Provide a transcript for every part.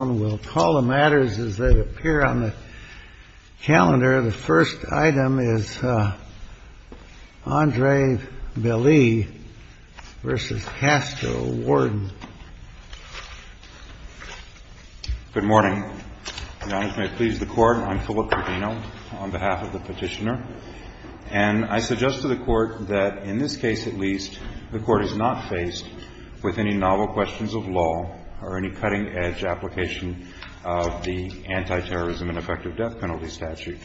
We'll call the matters as they appear on the calendar. The first item is Andre Belei v. Castro, Warden. Good morning. Your Honor, if you may please the court, I'm Philip Cardino on behalf of the petitioner. And I suggest to the court that in this case at least, the court is not faced with any novel questions of law or any cutting-edge application of the Antiterrorism and Effective Death Penalty Statute.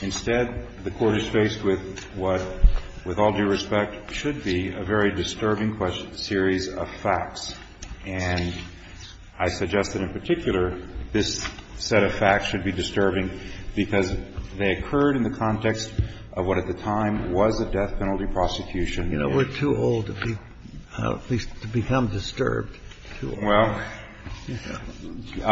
Instead, the court is faced with what, with all due respect, should be a very disturbing series of facts. And I suggest that in particular, this set of facts should be disturbing because they occurred in the context of what at the time was a death penalty prosecution. You know, we're too old to be, at least to become disturbed. Well, intrigued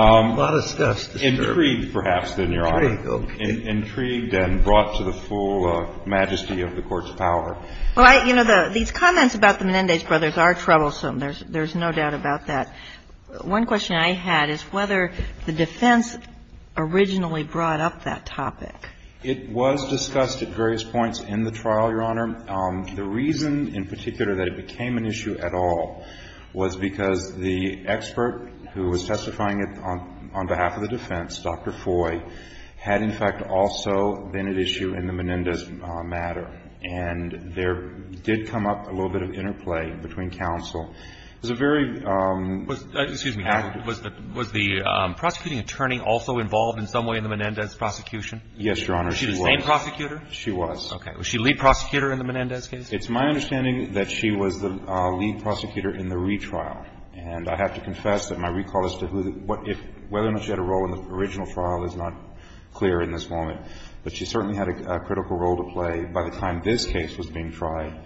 perhaps, then, Your Honor. Intrigued and brought to the full majesty of the Court's power. Well, you know, these comments about the Menendez brothers are troublesome. There's no doubt about that. One question I had is whether the defense originally brought up that topic. It was discussed at various points in the trial, Your Honor. The reason, in particular, that it became an issue at all was because the expert who was testifying on behalf of the defense, Dr. Foy, had, in fact, also been at issue in the Menendez matter, and there did come up a little bit of interplay between counsel. It was a very — Was the prosecuting attorney also involved in some way in the Menendez prosecution? Yes, Your Honor. Was she the same prosecutor? She was. Okay. Was she the lead prosecutor in the Menendez case? It's my understanding that she was the lead prosecutor in the retrial. And I have to confess that my recall as to who the — whether or not she had a role in the original trial is not clear in this moment. But she certainly had a critical role to play. By the time this case was being tried,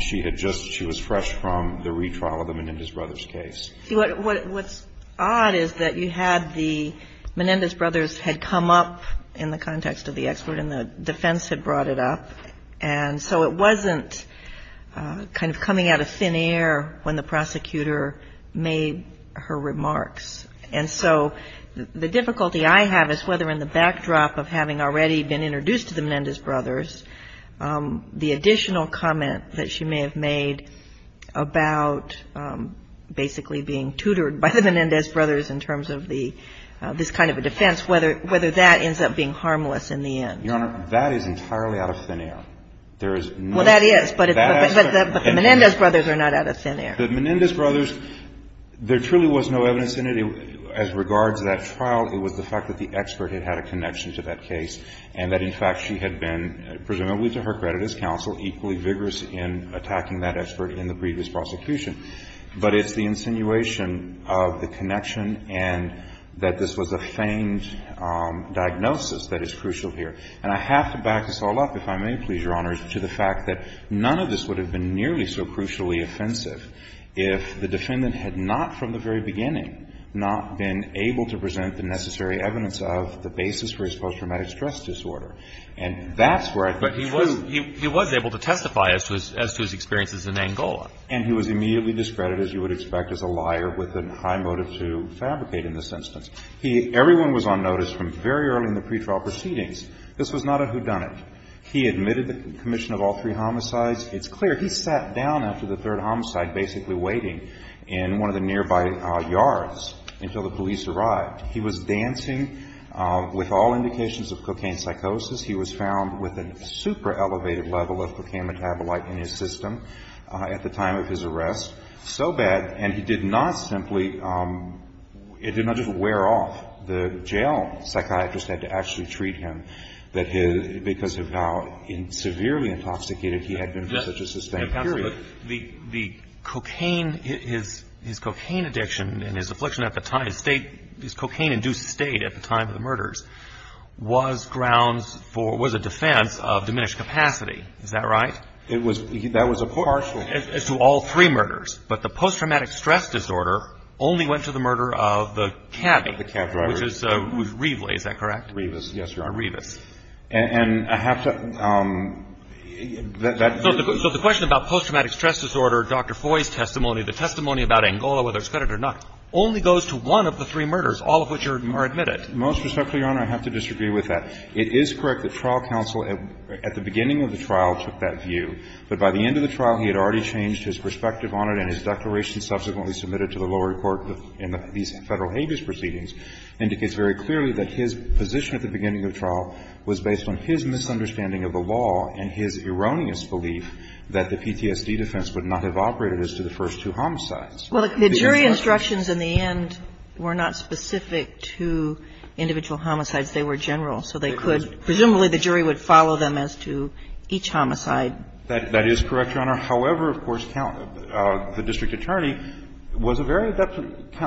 she had just — she was fresh from the retrial of the Menendez brothers' case. What's odd is that you had the — Menendez brothers had come up in the context of the expert, and the defense had brought it up, and so it wasn't kind of coming out of thin air when the prosecutor made her remarks. And so the difficulty I have is whether, in the backdrop of having already been introduced to the Menendez brothers, the additional comment that she may have made about basically being tutored by the Menendez brothers in terms of the — this kind of a defense, whether that ends up being harmless in the end. Your Honor, that is entirely out of thin air. There is no — Well, that is, but the Menendez brothers are not out of thin air. The Menendez brothers, there truly was no evidence in it. As regards to that trial, it was the fact that the expert had had a connection to that case, and that, in fact, she had been, presumably to her credit as counsel, equally vigorous in attacking that expert in the previous prosecution. But it's the insinuation of the connection and that this was a feigned diagnosis that is crucial here. And I have to back this all up, if I may, please, Your Honor, to the fact that none of this would have been nearly so crucially offensive if the defendant had not, from the very beginning, not been able to present the necessary evidence of the basis for his post-traumatic stress disorder. And that's where I think it's true. But he was able to testify as to his experiences in Angola. And he was immediately discredited, as you would expect, as a liar with a high motive to fabricate in this instance. He — everyone was on notice from very early in the pretrial proceedings. This was not a whodunit. He admitted the commission of all three homicides. It's clear he sat down after the third homicide, basically waiting in one of the nearby yards until the police arrived. He was dancing with all indications of cocaine psychosis. He was found with a super-elevated level of cocaine metabolite in his system. At the time of his arrest, so bad, and he did not simply — it did not just wear off. The jail psychiatrist had to actually treat him, that his — because of how severely intoxicated he had been for such a sustained period. The — the cocaine — his cocaine addiction and his affliction at the time — his state — his cocaine-induced state at the time of the murders was grounds for — was a defense of diminished capacity. Is that right? It was — that was a partial — As to all three murders. But the post-traumatic stress disorder only went to the murder of the cabbie. The cab driver. Which is — who's — Reveley, is that correct? Revis, yes, Your Honor. Revis. And I have to — that — So the question about post-traumatic stress disorder, Dr. Foy's testimony, the testimony about Angola, whether it's fed or not, only goes to one of the three murders, all of which are admitted. Most respectfully, Your Honor, I have to disagree with that. It is correct that trial counsel at the beginning of the trial took that view. But by the end of the trial, he had already changed his perspective on it, and his declaration subsequently submitted to the lower court in these Federal abuse proceedings indicates very clearly that his position at the beginning of the trial was based on his misunderstanding of the law and his erroneous belief that the PTSD defense would not have operated as to the first two homicides. Well, the jury instructions in the end were not specific to individual homicides. They were general, so they could — presumably, the jury would follow them as to each homicide. That is correct, Your Honor. However, of course, the district attorney was a very adept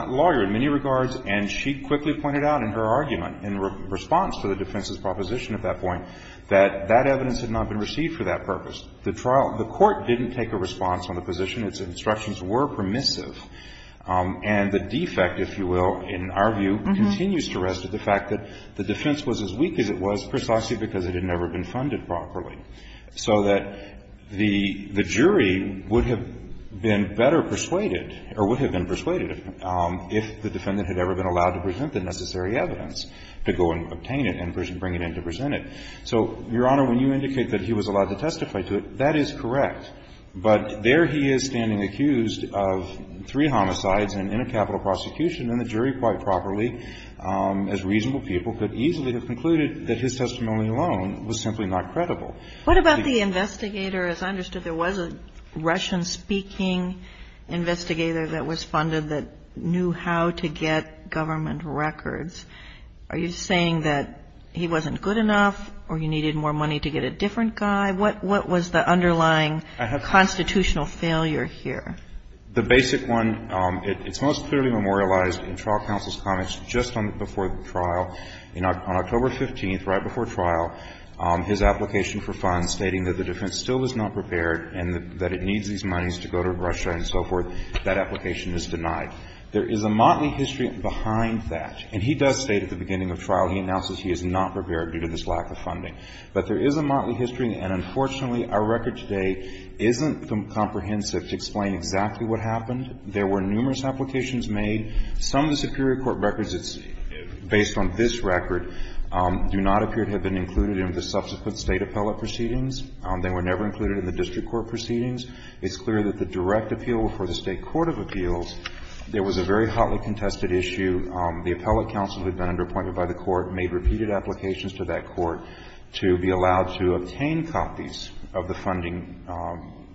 lawyer in many regards, and she quickly pointed out in her argument in response to the defense's proposition at that point that that evidence had not been received for that purpose. The trial — the court didn't take a response on the position. Its instructions were permissive. And the defect, if you will, in our view, continues to rest with the fact that the defense was as weak as it was precisely because it had never been funded properly, so that the jury would have been better persuaded, or would have been persuaded, if the defendant had ever been allowed to present the necessary evidence to go and obtain it and bring it in to present it. So, Your Honor, when you indicate that he was allowed to testify to it, that is correct. But there he is standing accused of three homicides and in a capital prosecution and the jury, quite properly, as reasonable people, could easily have concluded that his testimony alone was simply not credible. What about the investigator? As I understood, there was a Russian-speaking investigator that was funded that knew how to get government records. Are you saying that he wasn't good enough, or you needed more money to get a different guy? What was the underlying constitutional failure here? The basic one, it's most clearly memorialized in trial counsel's comments just before the trial. On October 15th, right before trial, his application for funds stating that the defense still was not prepared and that it needs these monies to go to Russia and so forth, that application is denied. There is a motley history behind that. And he does state at the beginning of trial, he announces he is not prepared due to this lack of funding. But there is a motley history, and unfortunately, our record today isn't comprehensive to explain exactly what happened. There were numerous applications made. Some of the superior court records, based on this record, do not appear to have been included in the subsequent State appellate proceedings. They were never included in the district court proceedings. It's clear that the direct appeal before the State court of appeals, there was a very hotly contested issue. The appellate counsel who had been underappointed by the court made repeated applications to that court to be allowed to obtain copies of the funding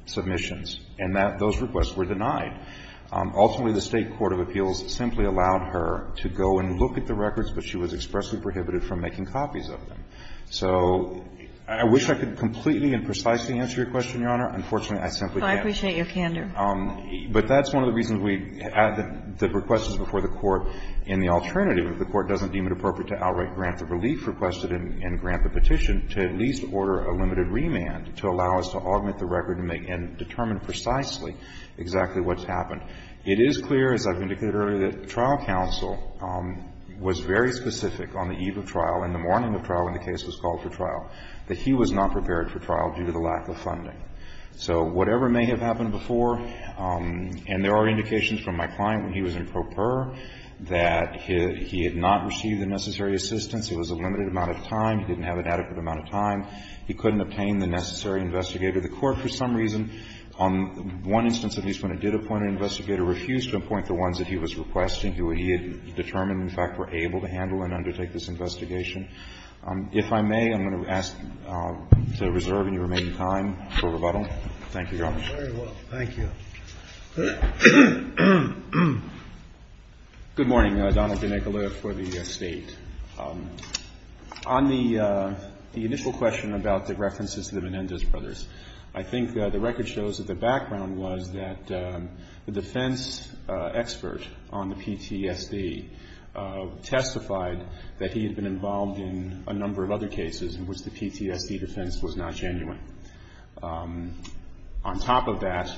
submissions. And that those requests were denied. Ultimately, the State court of appeals simply allowed her to go and look at the records, but she was expressly prohibited from making copies of them. So I wish I could completely and precisely answer your question, Your Honor. Unfortunately, I simply can't. Kagan. Kagan. But that's one of the reasons we add the requests before the court. And the alternative, if the court doesn't deem it appropriate to outright grant the relief requested and grant the petition, to at least order a limited remand to allow us to augment the record and determine precisely exactly what's happened. It is clear, as I've indicated earlier, that the trial counsel was very specific on the eve of trial, in the morning of trial when the case was called for trial, that he was not prepared for trial due to the lack of funding. So whatever may have happened before, and there are indications from my client when he was in pro pur, that he had not received the necessary assistance, it was a limited amount of time, he didn't have an adequate amount of time, he couldn't obtain the necessary investigator. The court, for some reason, on one instance at least, when it did appoint an investigator, refused to appoint the ones that he was requesting, who he had determined, in fact, were able to handle and undertake this investigation. If I may, I'm going to ask to reserve any remaining time for rebuttal. Thank you, Your Honor. Very well. Thank you. Good morning. Donald DeNicola for the State. On the initial question about the references to the Menendez brothers, I think the record shows that the background was that the defense expert on the PTSD testified that he had been involved in a number of other cases in which the PTSD defense was not genuine. On top of that,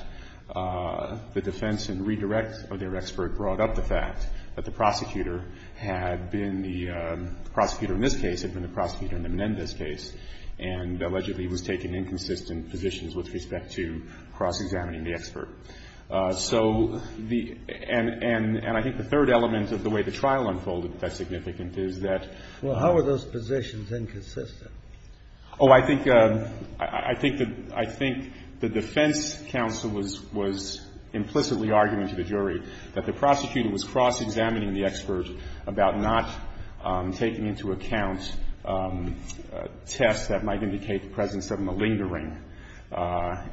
the defense and redirect of their expert brought up the fact that the prosecutor had been the prosecutor in this case, had been the prosecutor in the Menendez case, and allegedly was taking inconsistent positions with respect to cross-examining the expert. So, and I think the third element of the way the trial unfolded that's significant is that Well, how were those positions inconsistent? Oh, I think the defense counsel was implicitly arguing to the jury that the prosecutor was cross-examining the expert about not taking into account tests that might indicate the presence of malingering,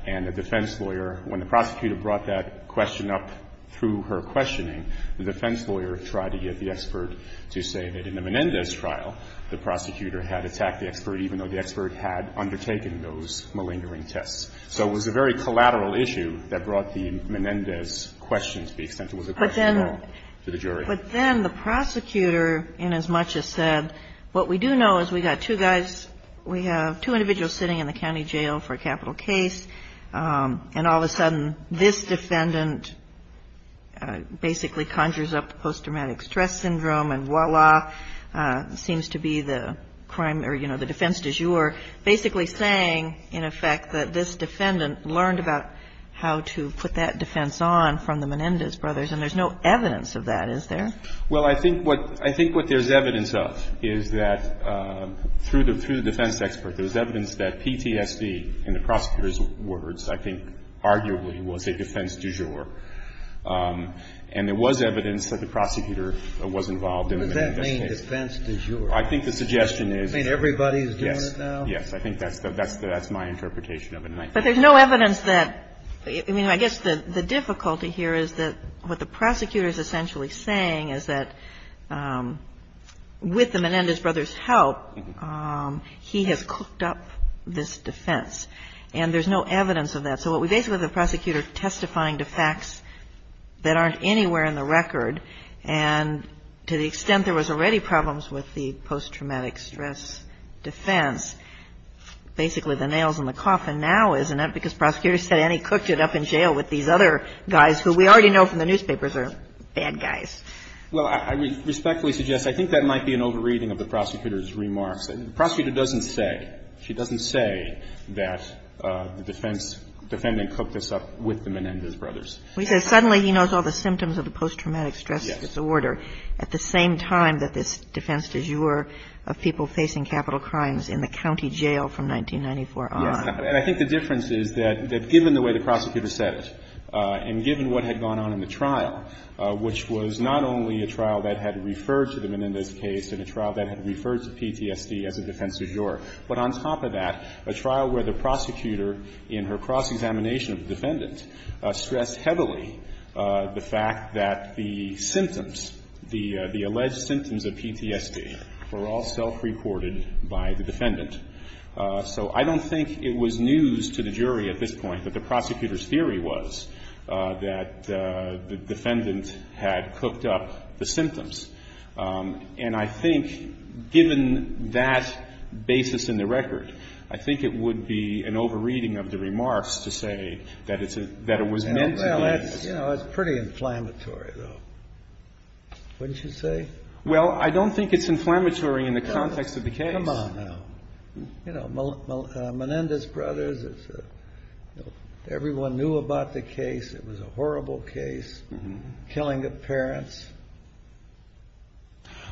and the defense lawyer, when the prosecutor brought that question up through her questioning, the defense lawyer tried to get the expert to say that in the Menendez trial, the prosecutor had attacked the expert even though the expert had undertaken those malingering tests. So it was a very collateral issue that brought the Menendez question to the extent it was a question of law to the jury. But then the prosecutor, inasmuch as said, what we do know is we got two guys, we have two individuals sitting in the county jail for a capital case, and all of a sudden, this defendant basically conjures up post-traumatic stress syndrome, and voila, seems to be the crime, or, you know, the defense du jour, basically saying, in effect, that this defendant learned about how to put that defense on from the Menendez brothers, and there's no evidence of that, is there? Well, I think what there's evidence of is that through the defense expert, there's evidence that PTSD, in the prosecutor's words, I think arguably was a defense du jour, and there was evidence that the prosecutor was involved in the Menendez case. What does that mean, defense du jour? I think the suggestion is yes. You mean everybody's doing it now? Yes. I think that's my interpretation of it. But there's no evidence that, I mean, I guess the difficulty here is that what the prosecutor's essentially saying is that with the Menendez brothers' help, he has cooked up this defense, and there's no evidence of that. So what we basically have the prosecutor testifying to facts that aren't anywhere in the record, and to the extent there was already problems with the post-traumatic stress defense, basically the nail's in the coffin now, isn't it? Because prosecutor said, and he cooked it up in jail with these other guys who we already know from the newspapers are bad guys. Well, I respectfully suggest, I think that might be an over-reading of the prosecutor's remarks. The prosecutor doesn't say, she doesn't say that the defense, defendant cooked this up with the Menendez brothers. We said suddenly he knows all the symptoms of the post-traumatic stress disorder at the same time that this defense de jure of people facing capital crimes in the county jail from 1994 on. Yes. And I think the difference is that given the way the prosecutor said it, and given what had gone on in the trial, which was not only a trial that had referred to the Menendez case, and a trial that had referred to PTSD as a defense de jure, but on top of that, a trial where the prosecutor in her cross-examination of the defendant stressed heavily the fact that the symptoms, the alleged symptoms of PTSD were all self-reported by the defendant. So I don't think it was news to the jury at this point that the prosecutor's theory was that the defendant had cooked up the symptoms. And I think given that basis in the record, I think it would be an over-reading of the remarks to say that it's a — that it was meant to be. Well, that's — you know, it's pretty inflammatory, though, wouldn't you say? Well, I don't think it's inflammatory in the context of the case. Come on, now. You know, Menendez brothers, it's a — everyone knew about the case. It was a horrible case, killing of parents,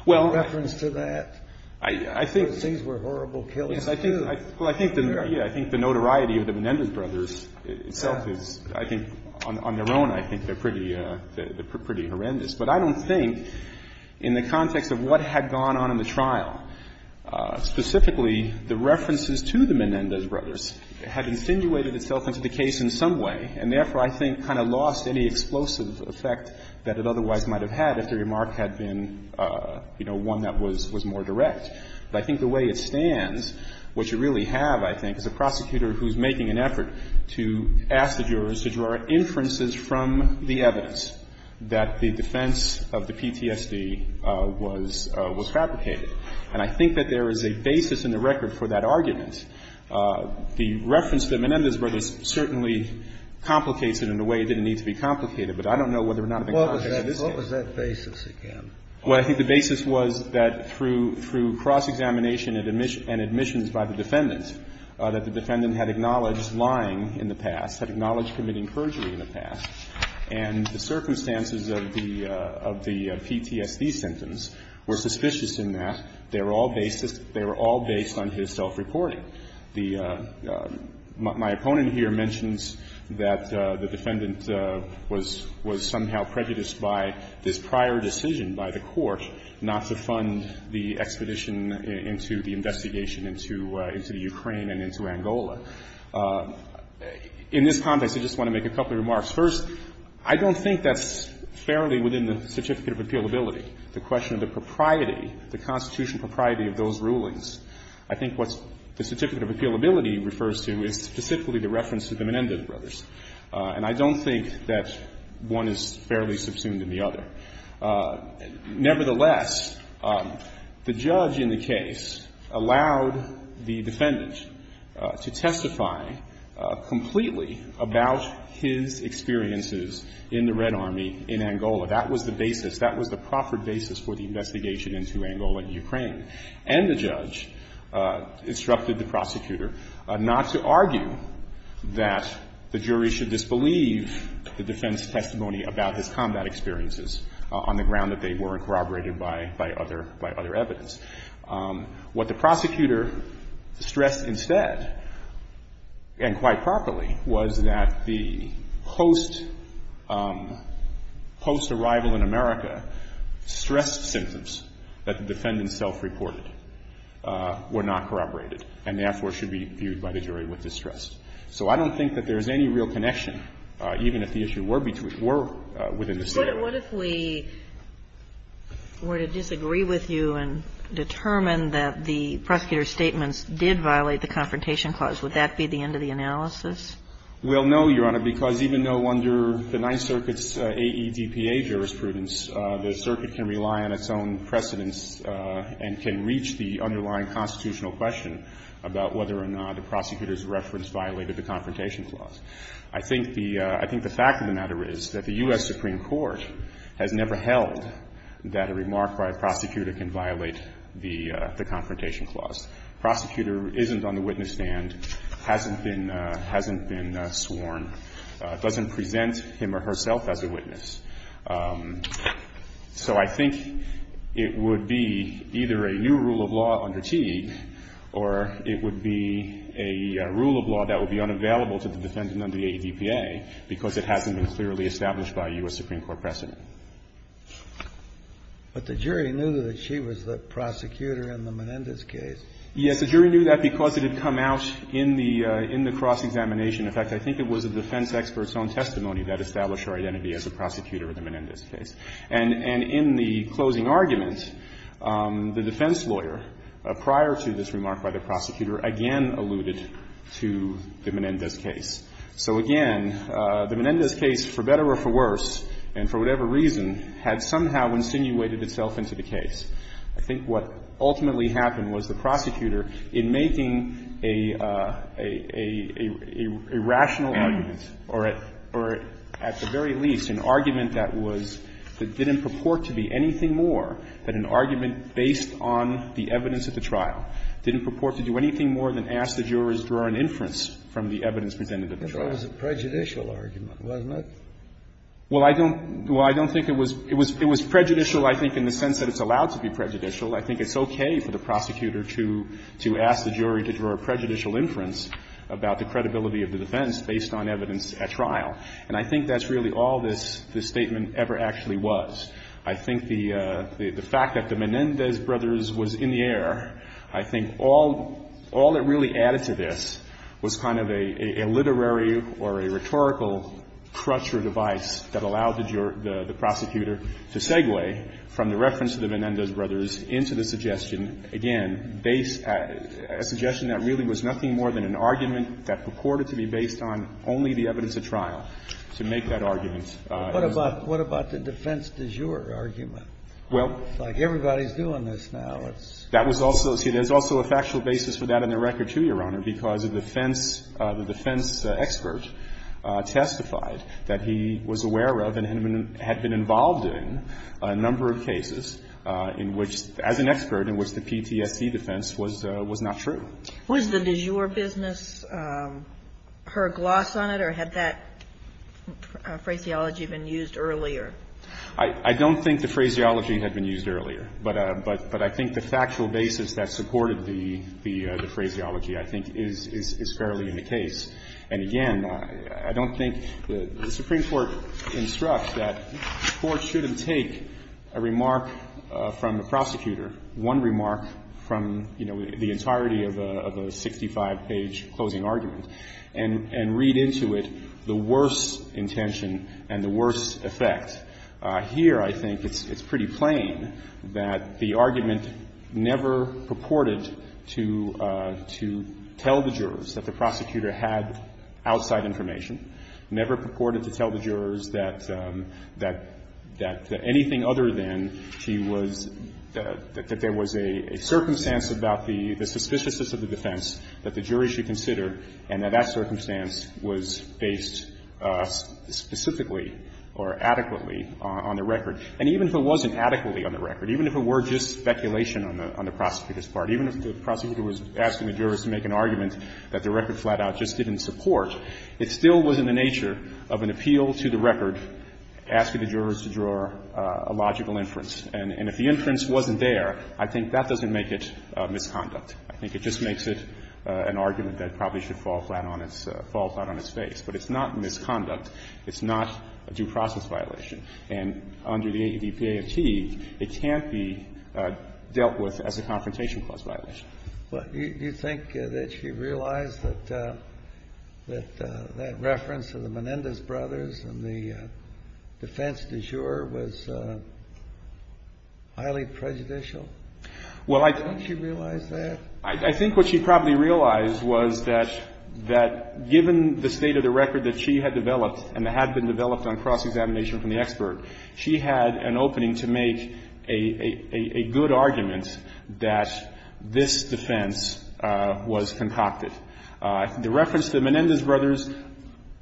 reference to that. Well, I think — Those things were horrible killings, too. Well, I think the — yeah, I think the notoriety of the Menendez brothers itself is — I think on their own, I think they're pretty — they're pretty horrendous. But I don't think, in the context of what had gone on in the trial, specifically, the references to the Menendez brothers had insinuated itself into the case in some way, and therefore, I think, kind of lost any explosive effect that it otherwise might have had if the remark had been, you know, one that was — was more direct. But I think the way it stands, what you really have, I think, is a prosecutor who's making an effort to ask the jurors to draw inferences from the evidence that the defense of the PTSD was — was fabricated. And I think that there is a basis in the record for that argument. The reference to the Menendez brothers certainly complicates it in a way it didn't need to be complicated, but I don't know whether or not it would have been complicated in this case. What was that basis again? Well, I think the basis was that through — through cross-examination and admissions by the defendant, that the defendant had acknowledged lying in the past, had acknowledged committing perjury in the past, and the circumstances of the PTSD symptoms were suspicious in that they were all based — they were all based on his self-reporting. The — my opponent here mentions that the defendant was — was somehow prejudiced by this prior decision by the court not to fund the expedition into the investigation into — into the Ukraine and into Angola. In this context, I just want to make a couple of remarks. First, I don't think that's fairly within the certificate of appealability, the question of the propriety, the constitutional propriety of those rulings. I think what the certificate of appealability refers to is specifically the reference to the Menendez brothers. And I don't think that one is fairly subsumed in the other. Nevertheless, the judge in the case allowed the defendant to testify completely about his experiences in the Red Army in Angola. That was the basis. That was the proffered basis for the investigation into Angola and Ukraine. And the judge instructed the prosecutor not to argue that the jury should disbelieve the defendant's testimony about his combat experiences on the ground that they weren't corroborated by — by other — by other evidence. What the prosecutor stressed instead, and quite properly, was that the post — post-arrival in America stressed symptoms that the defendant self-reported were not corroborated and therefore should be viewed by the jury with distrust. So I don't think that there's any real connection, even if the issue were between — were within the state of America. What if we were to disagree with you and determine that the prosecutor's statements did violate the Confrontation Clause? Would that be the end of the analysis? Well, no, Your Honor, because even though under the Ninth Circuit's AEDPA, jurors have the right to make their own judgments, I don't think that there's any real connection. I think that the fact of the matter is that the U.S. Supreme Court has never held that a remark by a prosecutor can violate the — the Confrontation Clause. A prosecutor isn't on the witness stand, hasn't been — hasn't been sworn, doesn't present him or herself as a witness. So I think it would be either a new rule of law under Teague or it would be a rule of law that would be unavailable to the defendant under the AEDPA because it hasn't been clearly established by a U.S. Supreme Court precedent. But the jury knew that she was the prosecutor in the Menendez case. Yes, the jury knew that because it had come out in the — in the cross-examination. In fact, I think it was the defense expert's own testimony that established her identity as the prosecutor in the Menendez case. And in the closing argument, the defense lawyer, prior to this remark by the prosecutor, again alluded to the Menendez case. So again, the Menendez case, for better or for worse, and for whatever reason, had somehow insinuated itself into the case. I think what ultimately happened was the prosecutor, in making a — a rational argument, or at — or at the very least, an argument that was — that didn't purport to be anything more than an argument based on the evidence at the trial, didn't purport to do anything more than ask the jurors to draw an inference from the evidence presented at the trial. That was a prejudicial argument, wasn't it? Well, I don't — well, I don't think it was — it was prejudicial, I think, in the sense that it's allowed to be prejudicial. I think it's okay for the prosecutor to — to ask the jury to draw a prejudicial inference about the credibility of the defense based on evidence at trial. And I think that's really all this — this statement ever actually was. I think the — the fact that the Menendez brothers was in the air, I think all — all that really added to this was kind of a — a literary or a rhetorical crutch or device that allowed the jur — the prosecutor to segue from the reference to the Menendez brothers into the suggestion, again, based — a suggestion that really was nothing more than an argument that purported to be based on only the evidence at trial, to make that argument. What about — what about the defense de jure argument? Well — It's like everybody's doing this now. It's — That was also — see, there's also a factual basis for that in the record, too, Your Honor, because the defense — the defense expert testified that he was aware of and had been involved in a number of cases in which, as an expert, in which the PTSD defense was — was not true. Was the de jure business her gloss on it, or had that phraseology been used earlier? I — I don't think the phraseology had been used earlier. But — but I think the factual basis that supported the — the phraseology, I think, is — is fairly in the case. And, again, I don't think — the Supreme Court instructs that the Court shouldn't take a remark from the prosecutor, one remark from, you know, the entirety of a — of a 65-page closing argument, and — and read into it the worst intention and the worst effect. Here, I think it's pretty plain that the argument never purported to — to tell the jurors that — that — that anything other than she was — that there was a — a circumstance about the — the suspiciousness of the defense that the jury should consider and that that circumstance was based specifically or adequately on — on the record. And even if it wasn't adequately on the record, even if it were just speculation on the prosecutor's part, even if the prosecutor was asking the jurors to make an argument that the record flat-out just didn't support, it still was in the nature of an appeal to the record asking the jurors to draw a logical inference. And — and if the inference wasn't there, I think that doesn't make it misconduct. I think it just makes it an argument that probably should fall flat on its — fall flat on its face. But it's not misconduct. It's not a due process violation. And under the ADP-AFT, it can't be dealt with as a confrontation clause violation. But do you think that she realized that — that that reference of the Menendez brothers and the defense du jour was highly prejudicial? Well, I think — Didn't she realize that? I think what she probably realized was that — that given the state of the record that she had developed and had been developed on cross-examination from the expert, she had an opening to make a — a — a good argument that this defense was concocted. The reference to the Menendez brothers,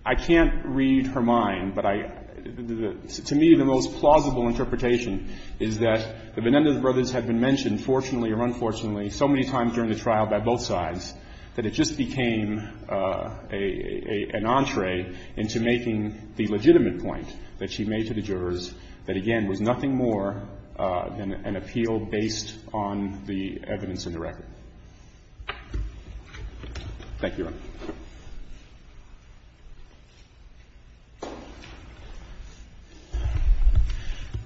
I can't read her mind, but I — to me, the most plausible interpretation is that the Menendez brothers had been mentioned, fortunately or unfortunately, so many times during the trial by both sides that it just became an entree into making the legitimate point that she made to the jurors that, again, was nothing more than an appeal based on the evidence in the record. Thank you,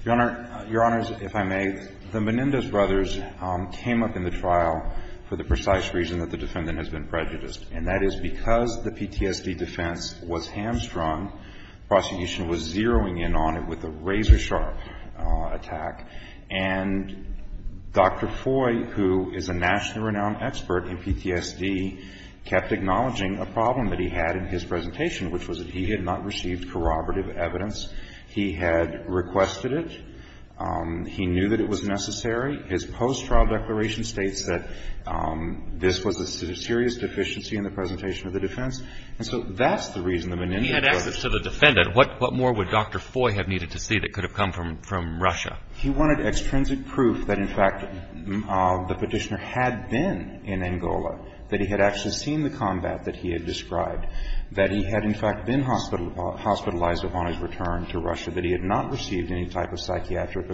Your Honor. Your Honor — Your Honors, if I may, the Menendez brothers came up in the trial for the precise reason that the defendant has been prejudiced, and that is because the PTSD defense was hamstrung, prosecution was zeroing in on it with a razor-sharp attack, and Dr. Foy, who is a nationally renowned expert in PTSD, kept acknowledging a problem that he had in his presentation, which was that he had not received corroborative evidence. He had requested it. He knew that it was necessary. His post-trial declaration states that this was a serious deficiency in the presentation of the defense. And so that's the reason the Menendez brothers — If he had asked this to the defendant, what more would Dr. Foy have needed to see that could have come from Russia? He wanted extrinsic proof that, in fact, the petitioner had been in Angola, that he had actually seen the combat that he had described, that he had, in fact, been hospitalized upon his return to Russia, that he had not received any type of psychiatric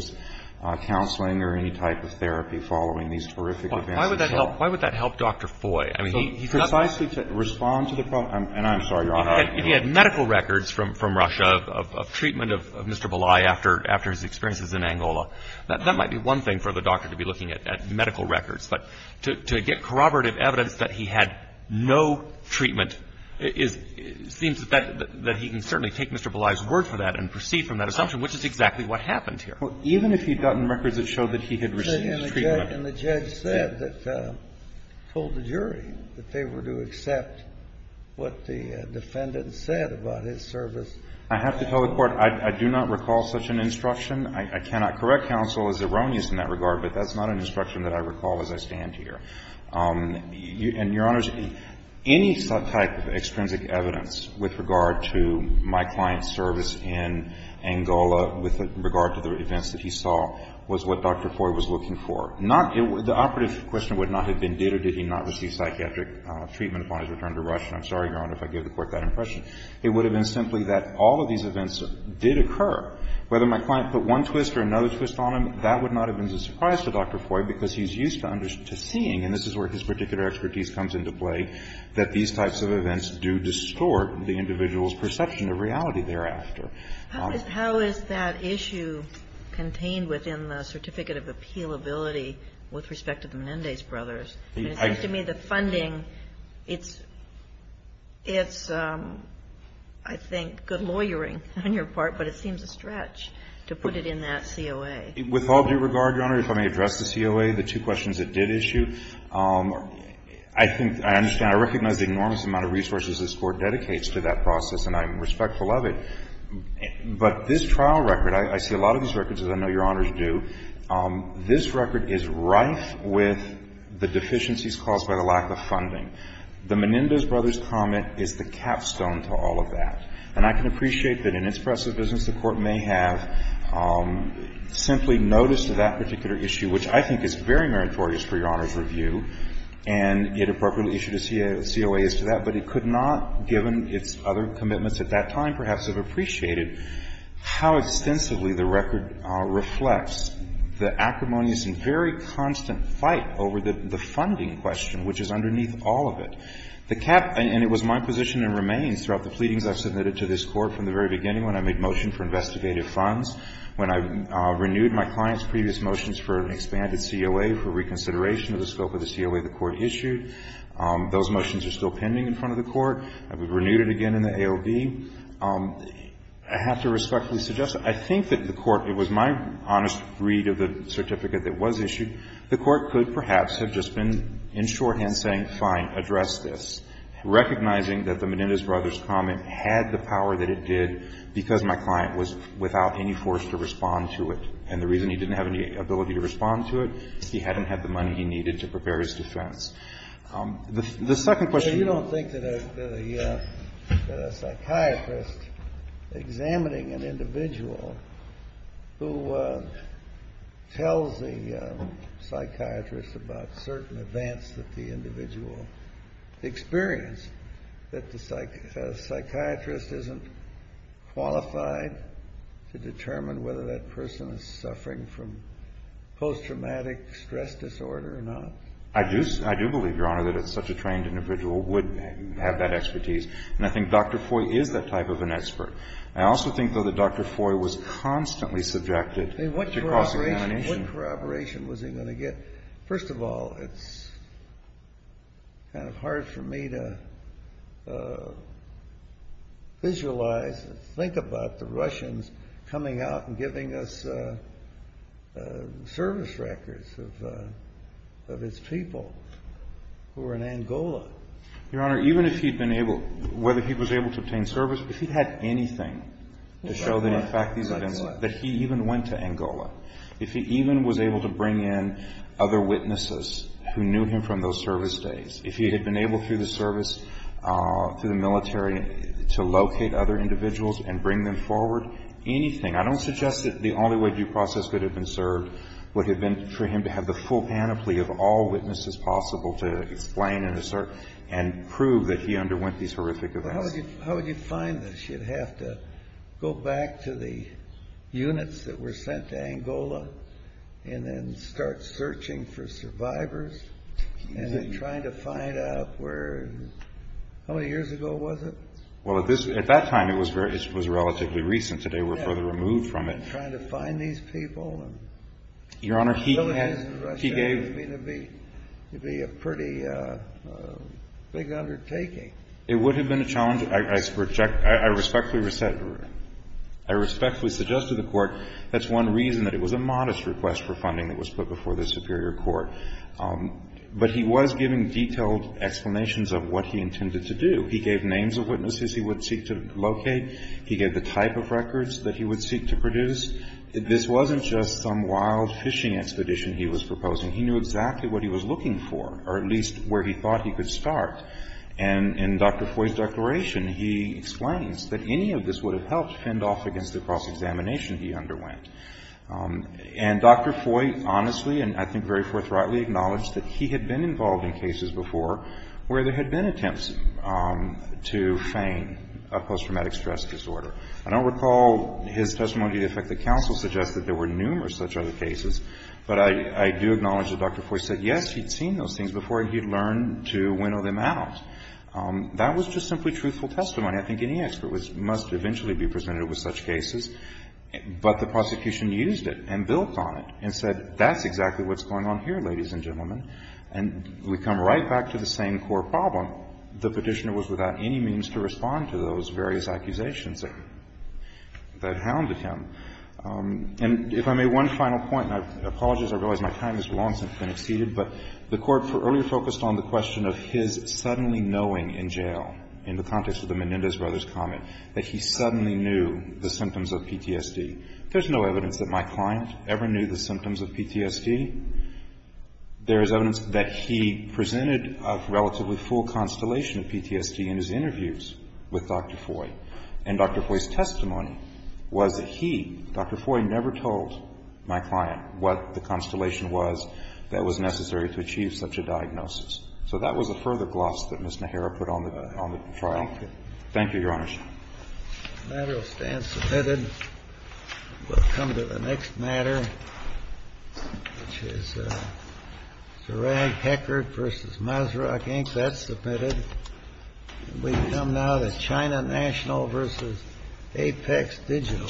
counseling or any type of therapy following these horrific events. But why would that help — why would that help Dr. Foy? I mean, he's not — Precisely to respond to the — and I'm sorry, Your Honor — If he had medical records from Russia of treatment of Mr. Belay after his experiences in Angola, that might be one thing for the doctor to be looking at, medical records. But to get corroborative evidence that he had no treatment is — seems that he can certainly take Mr. Belay's word for that and proceed from that assumption, which is exactly what happened here. Well, even if he'd gotten records that showed that he had received treatment — And the judge said that — told the jury that they were to accept what the defendant said about his service. I have to tell the Court, I do not recall such an instruction. I cannot correct counsel as erroneous in that regard, but that's not an instruction that I recall as I stand here. And, Your Honors, any type of extrinsic evidence with regard to my client's service in Angola with regard to the events that he saw was what Dr. Foy was looking for. Not — the operative question would not have been did or did he not receive psychiatric treatment upon his return to Russia. I'm sorry, Your Honor, if I gave the Court that impression. It would have been simply that all of these events did occur. Whether my client put one twist or another twist on them, that would not have been a surprise to Dr. Foy because he's used to seeing, and this is where his particular expertise comes into play, that these types of events do distort the individual's perception of reality thereafter. How is that issue contained within the Certificate of Appealability with respect to the Menendez brothers? It seems to me the funding, it's — it's, I think, good lawyering on your part, but it seems a stretch to put it in that COA. With all due regard, Your Honor, if I may address the COA, the two questions it did issue, I think, I understand, I recognize the enormous amount of resources this Court dedicates to that process, and I'm respectful of it. But this trial record, I see a lot of these records, as I know Your Honors do. This record is rife with the deficiencies caused by the lack of funding. The Menendez brothers' comment is the capstone to all of that. And I can appreciate that in its press of business, the Court may have simply noticed that particular issue, which I think is very meritorious for Your Honor's review, and it appropriately issued a COA as to that, but it could not, given its other commitments at that time, perhaps have appreciated how extensively the record reflects the acrimonious and very constant fight over the funding question, which is underneath all of it. The cap, and it was my position and remains throughout the pleadings I've submitted to this Court from the very beginning when I made motion for investigative funds, when I renewed my client's previous motions for an expanded COA for reconsideration of the scope of the COA the Court issued. Those motions are still pending in front of the Court. I've renewed it again in the AOB. I have to respectfully suggest that I think that the Court, it was my honest read of the certificate that was issued, the Court could perhaps have just been in shorthand saying, fine, address this, recognizing that the Menendez brothers' comment had the power that it did because my client was without any force to respond to it, and the reason he didn't have any ability to respond to it, he hadn't had the money he needed to prepare his defense. The second question. You don't think that a psychiatrist examining an individual who tells the psychiatrist about certain events that the individual experienced, that the psychiatrist isn't qualified to determine whether that person is suffering from post-traumatic stress disorder or not? I do believe, Your Honor, that such a trained individual would have that expertise, and I think Dr. Foy is that type of an expert. I also think, though, that Dr. Foy was constantly subjected to cross-examination. What corroboration was he going to get? First of all, it's kind of hard for me to visualize and think about the Russians coming out and giving us service records of his people who were in Angola. Your Honor, even if he'd been able, whether he was able to obtain service, if he had anything to show that in fact these events, that he even went to Angola, if he even was able to bring in other witnesses who knew him from those service days, if he had been able through the service, through the military, to locate other individuals and bring them forward, anything, I don't suggest that the only way due process could have been served would have been for him to have the full panoply of all witnesses possible to explain and assert and prove that he underwent these horrific events. Well, how would you find this? You'd have to go back to the units that were sent to Angola and then start searching for survivors and then trying to find out where, how many years ago was it? Well, at this, at that time, it was relatively recent. Today, we're further removed from it. Trying to find these people? Your Honor, he had, he gave. It would be a pretty big undertaking. It would have been a challenge. I respectfully suggest to the Court that's one reason that it was a modest request for funding that was put before the Superior Court. But he was giving detailed explanations of what he intended to do. He gave names of witnesses he would seek to locate. He gave the type of records that he would seek to produce. This wasn't just some wild fishing expedition he was proposing. He knew exactly what he was looking for, or at least where he thought he could start. And in Dr. Foy's declaration, he explains that any of this would have helped fend off against the cross-examination he underwent. And Dr. Foy honestly and I think very forthrightly acknowledged that he had been involved in cases before where there had been attempts to feign a post-traumatic stress disorder. I don't recall his testimony to the effect that counsel suggested there were numerous such other cases. But I do acknowledge that Dr. Foy said, yes, he'd seen those things before he'd learned to winnow them out. That was just simply truthful testimony. I think any expert must eventually be presented with such cases. But the prosecution used it and built on it and said, that's exactly what's going on here, ladies and gentlemen. And we come right back to the same court problem. The Petitioner was without any means to respond to those various accusations that hounded him. And if I may, one final point. And I apologize. I realize my time has long since been exceeded. But the Court earlier focused on the question of his suddenly knowing in jail, in the context of the Menendez brothers' comment, that he suddenly knew the symptoms of PTSD. There's no evidence that my client ever knew the symptoms of PTSD. There is evidence that he presented a relatively full constellation of PTSD in his interviews with Dr. Foy. And Dr. Foy's testimony was that he, Dr. Foy, never told my client what the constellation was that was necessary to achieve such a diagnosis. So that was a further gloss that Ms. Najera put on the trial. Thank you, Your Honor. The matter will stand submitted. We'll come to the next matter, which is Sarag Heckert v. Masrock, Inc. That's submitted. We come now to China National v. Apex Digital. Thank you.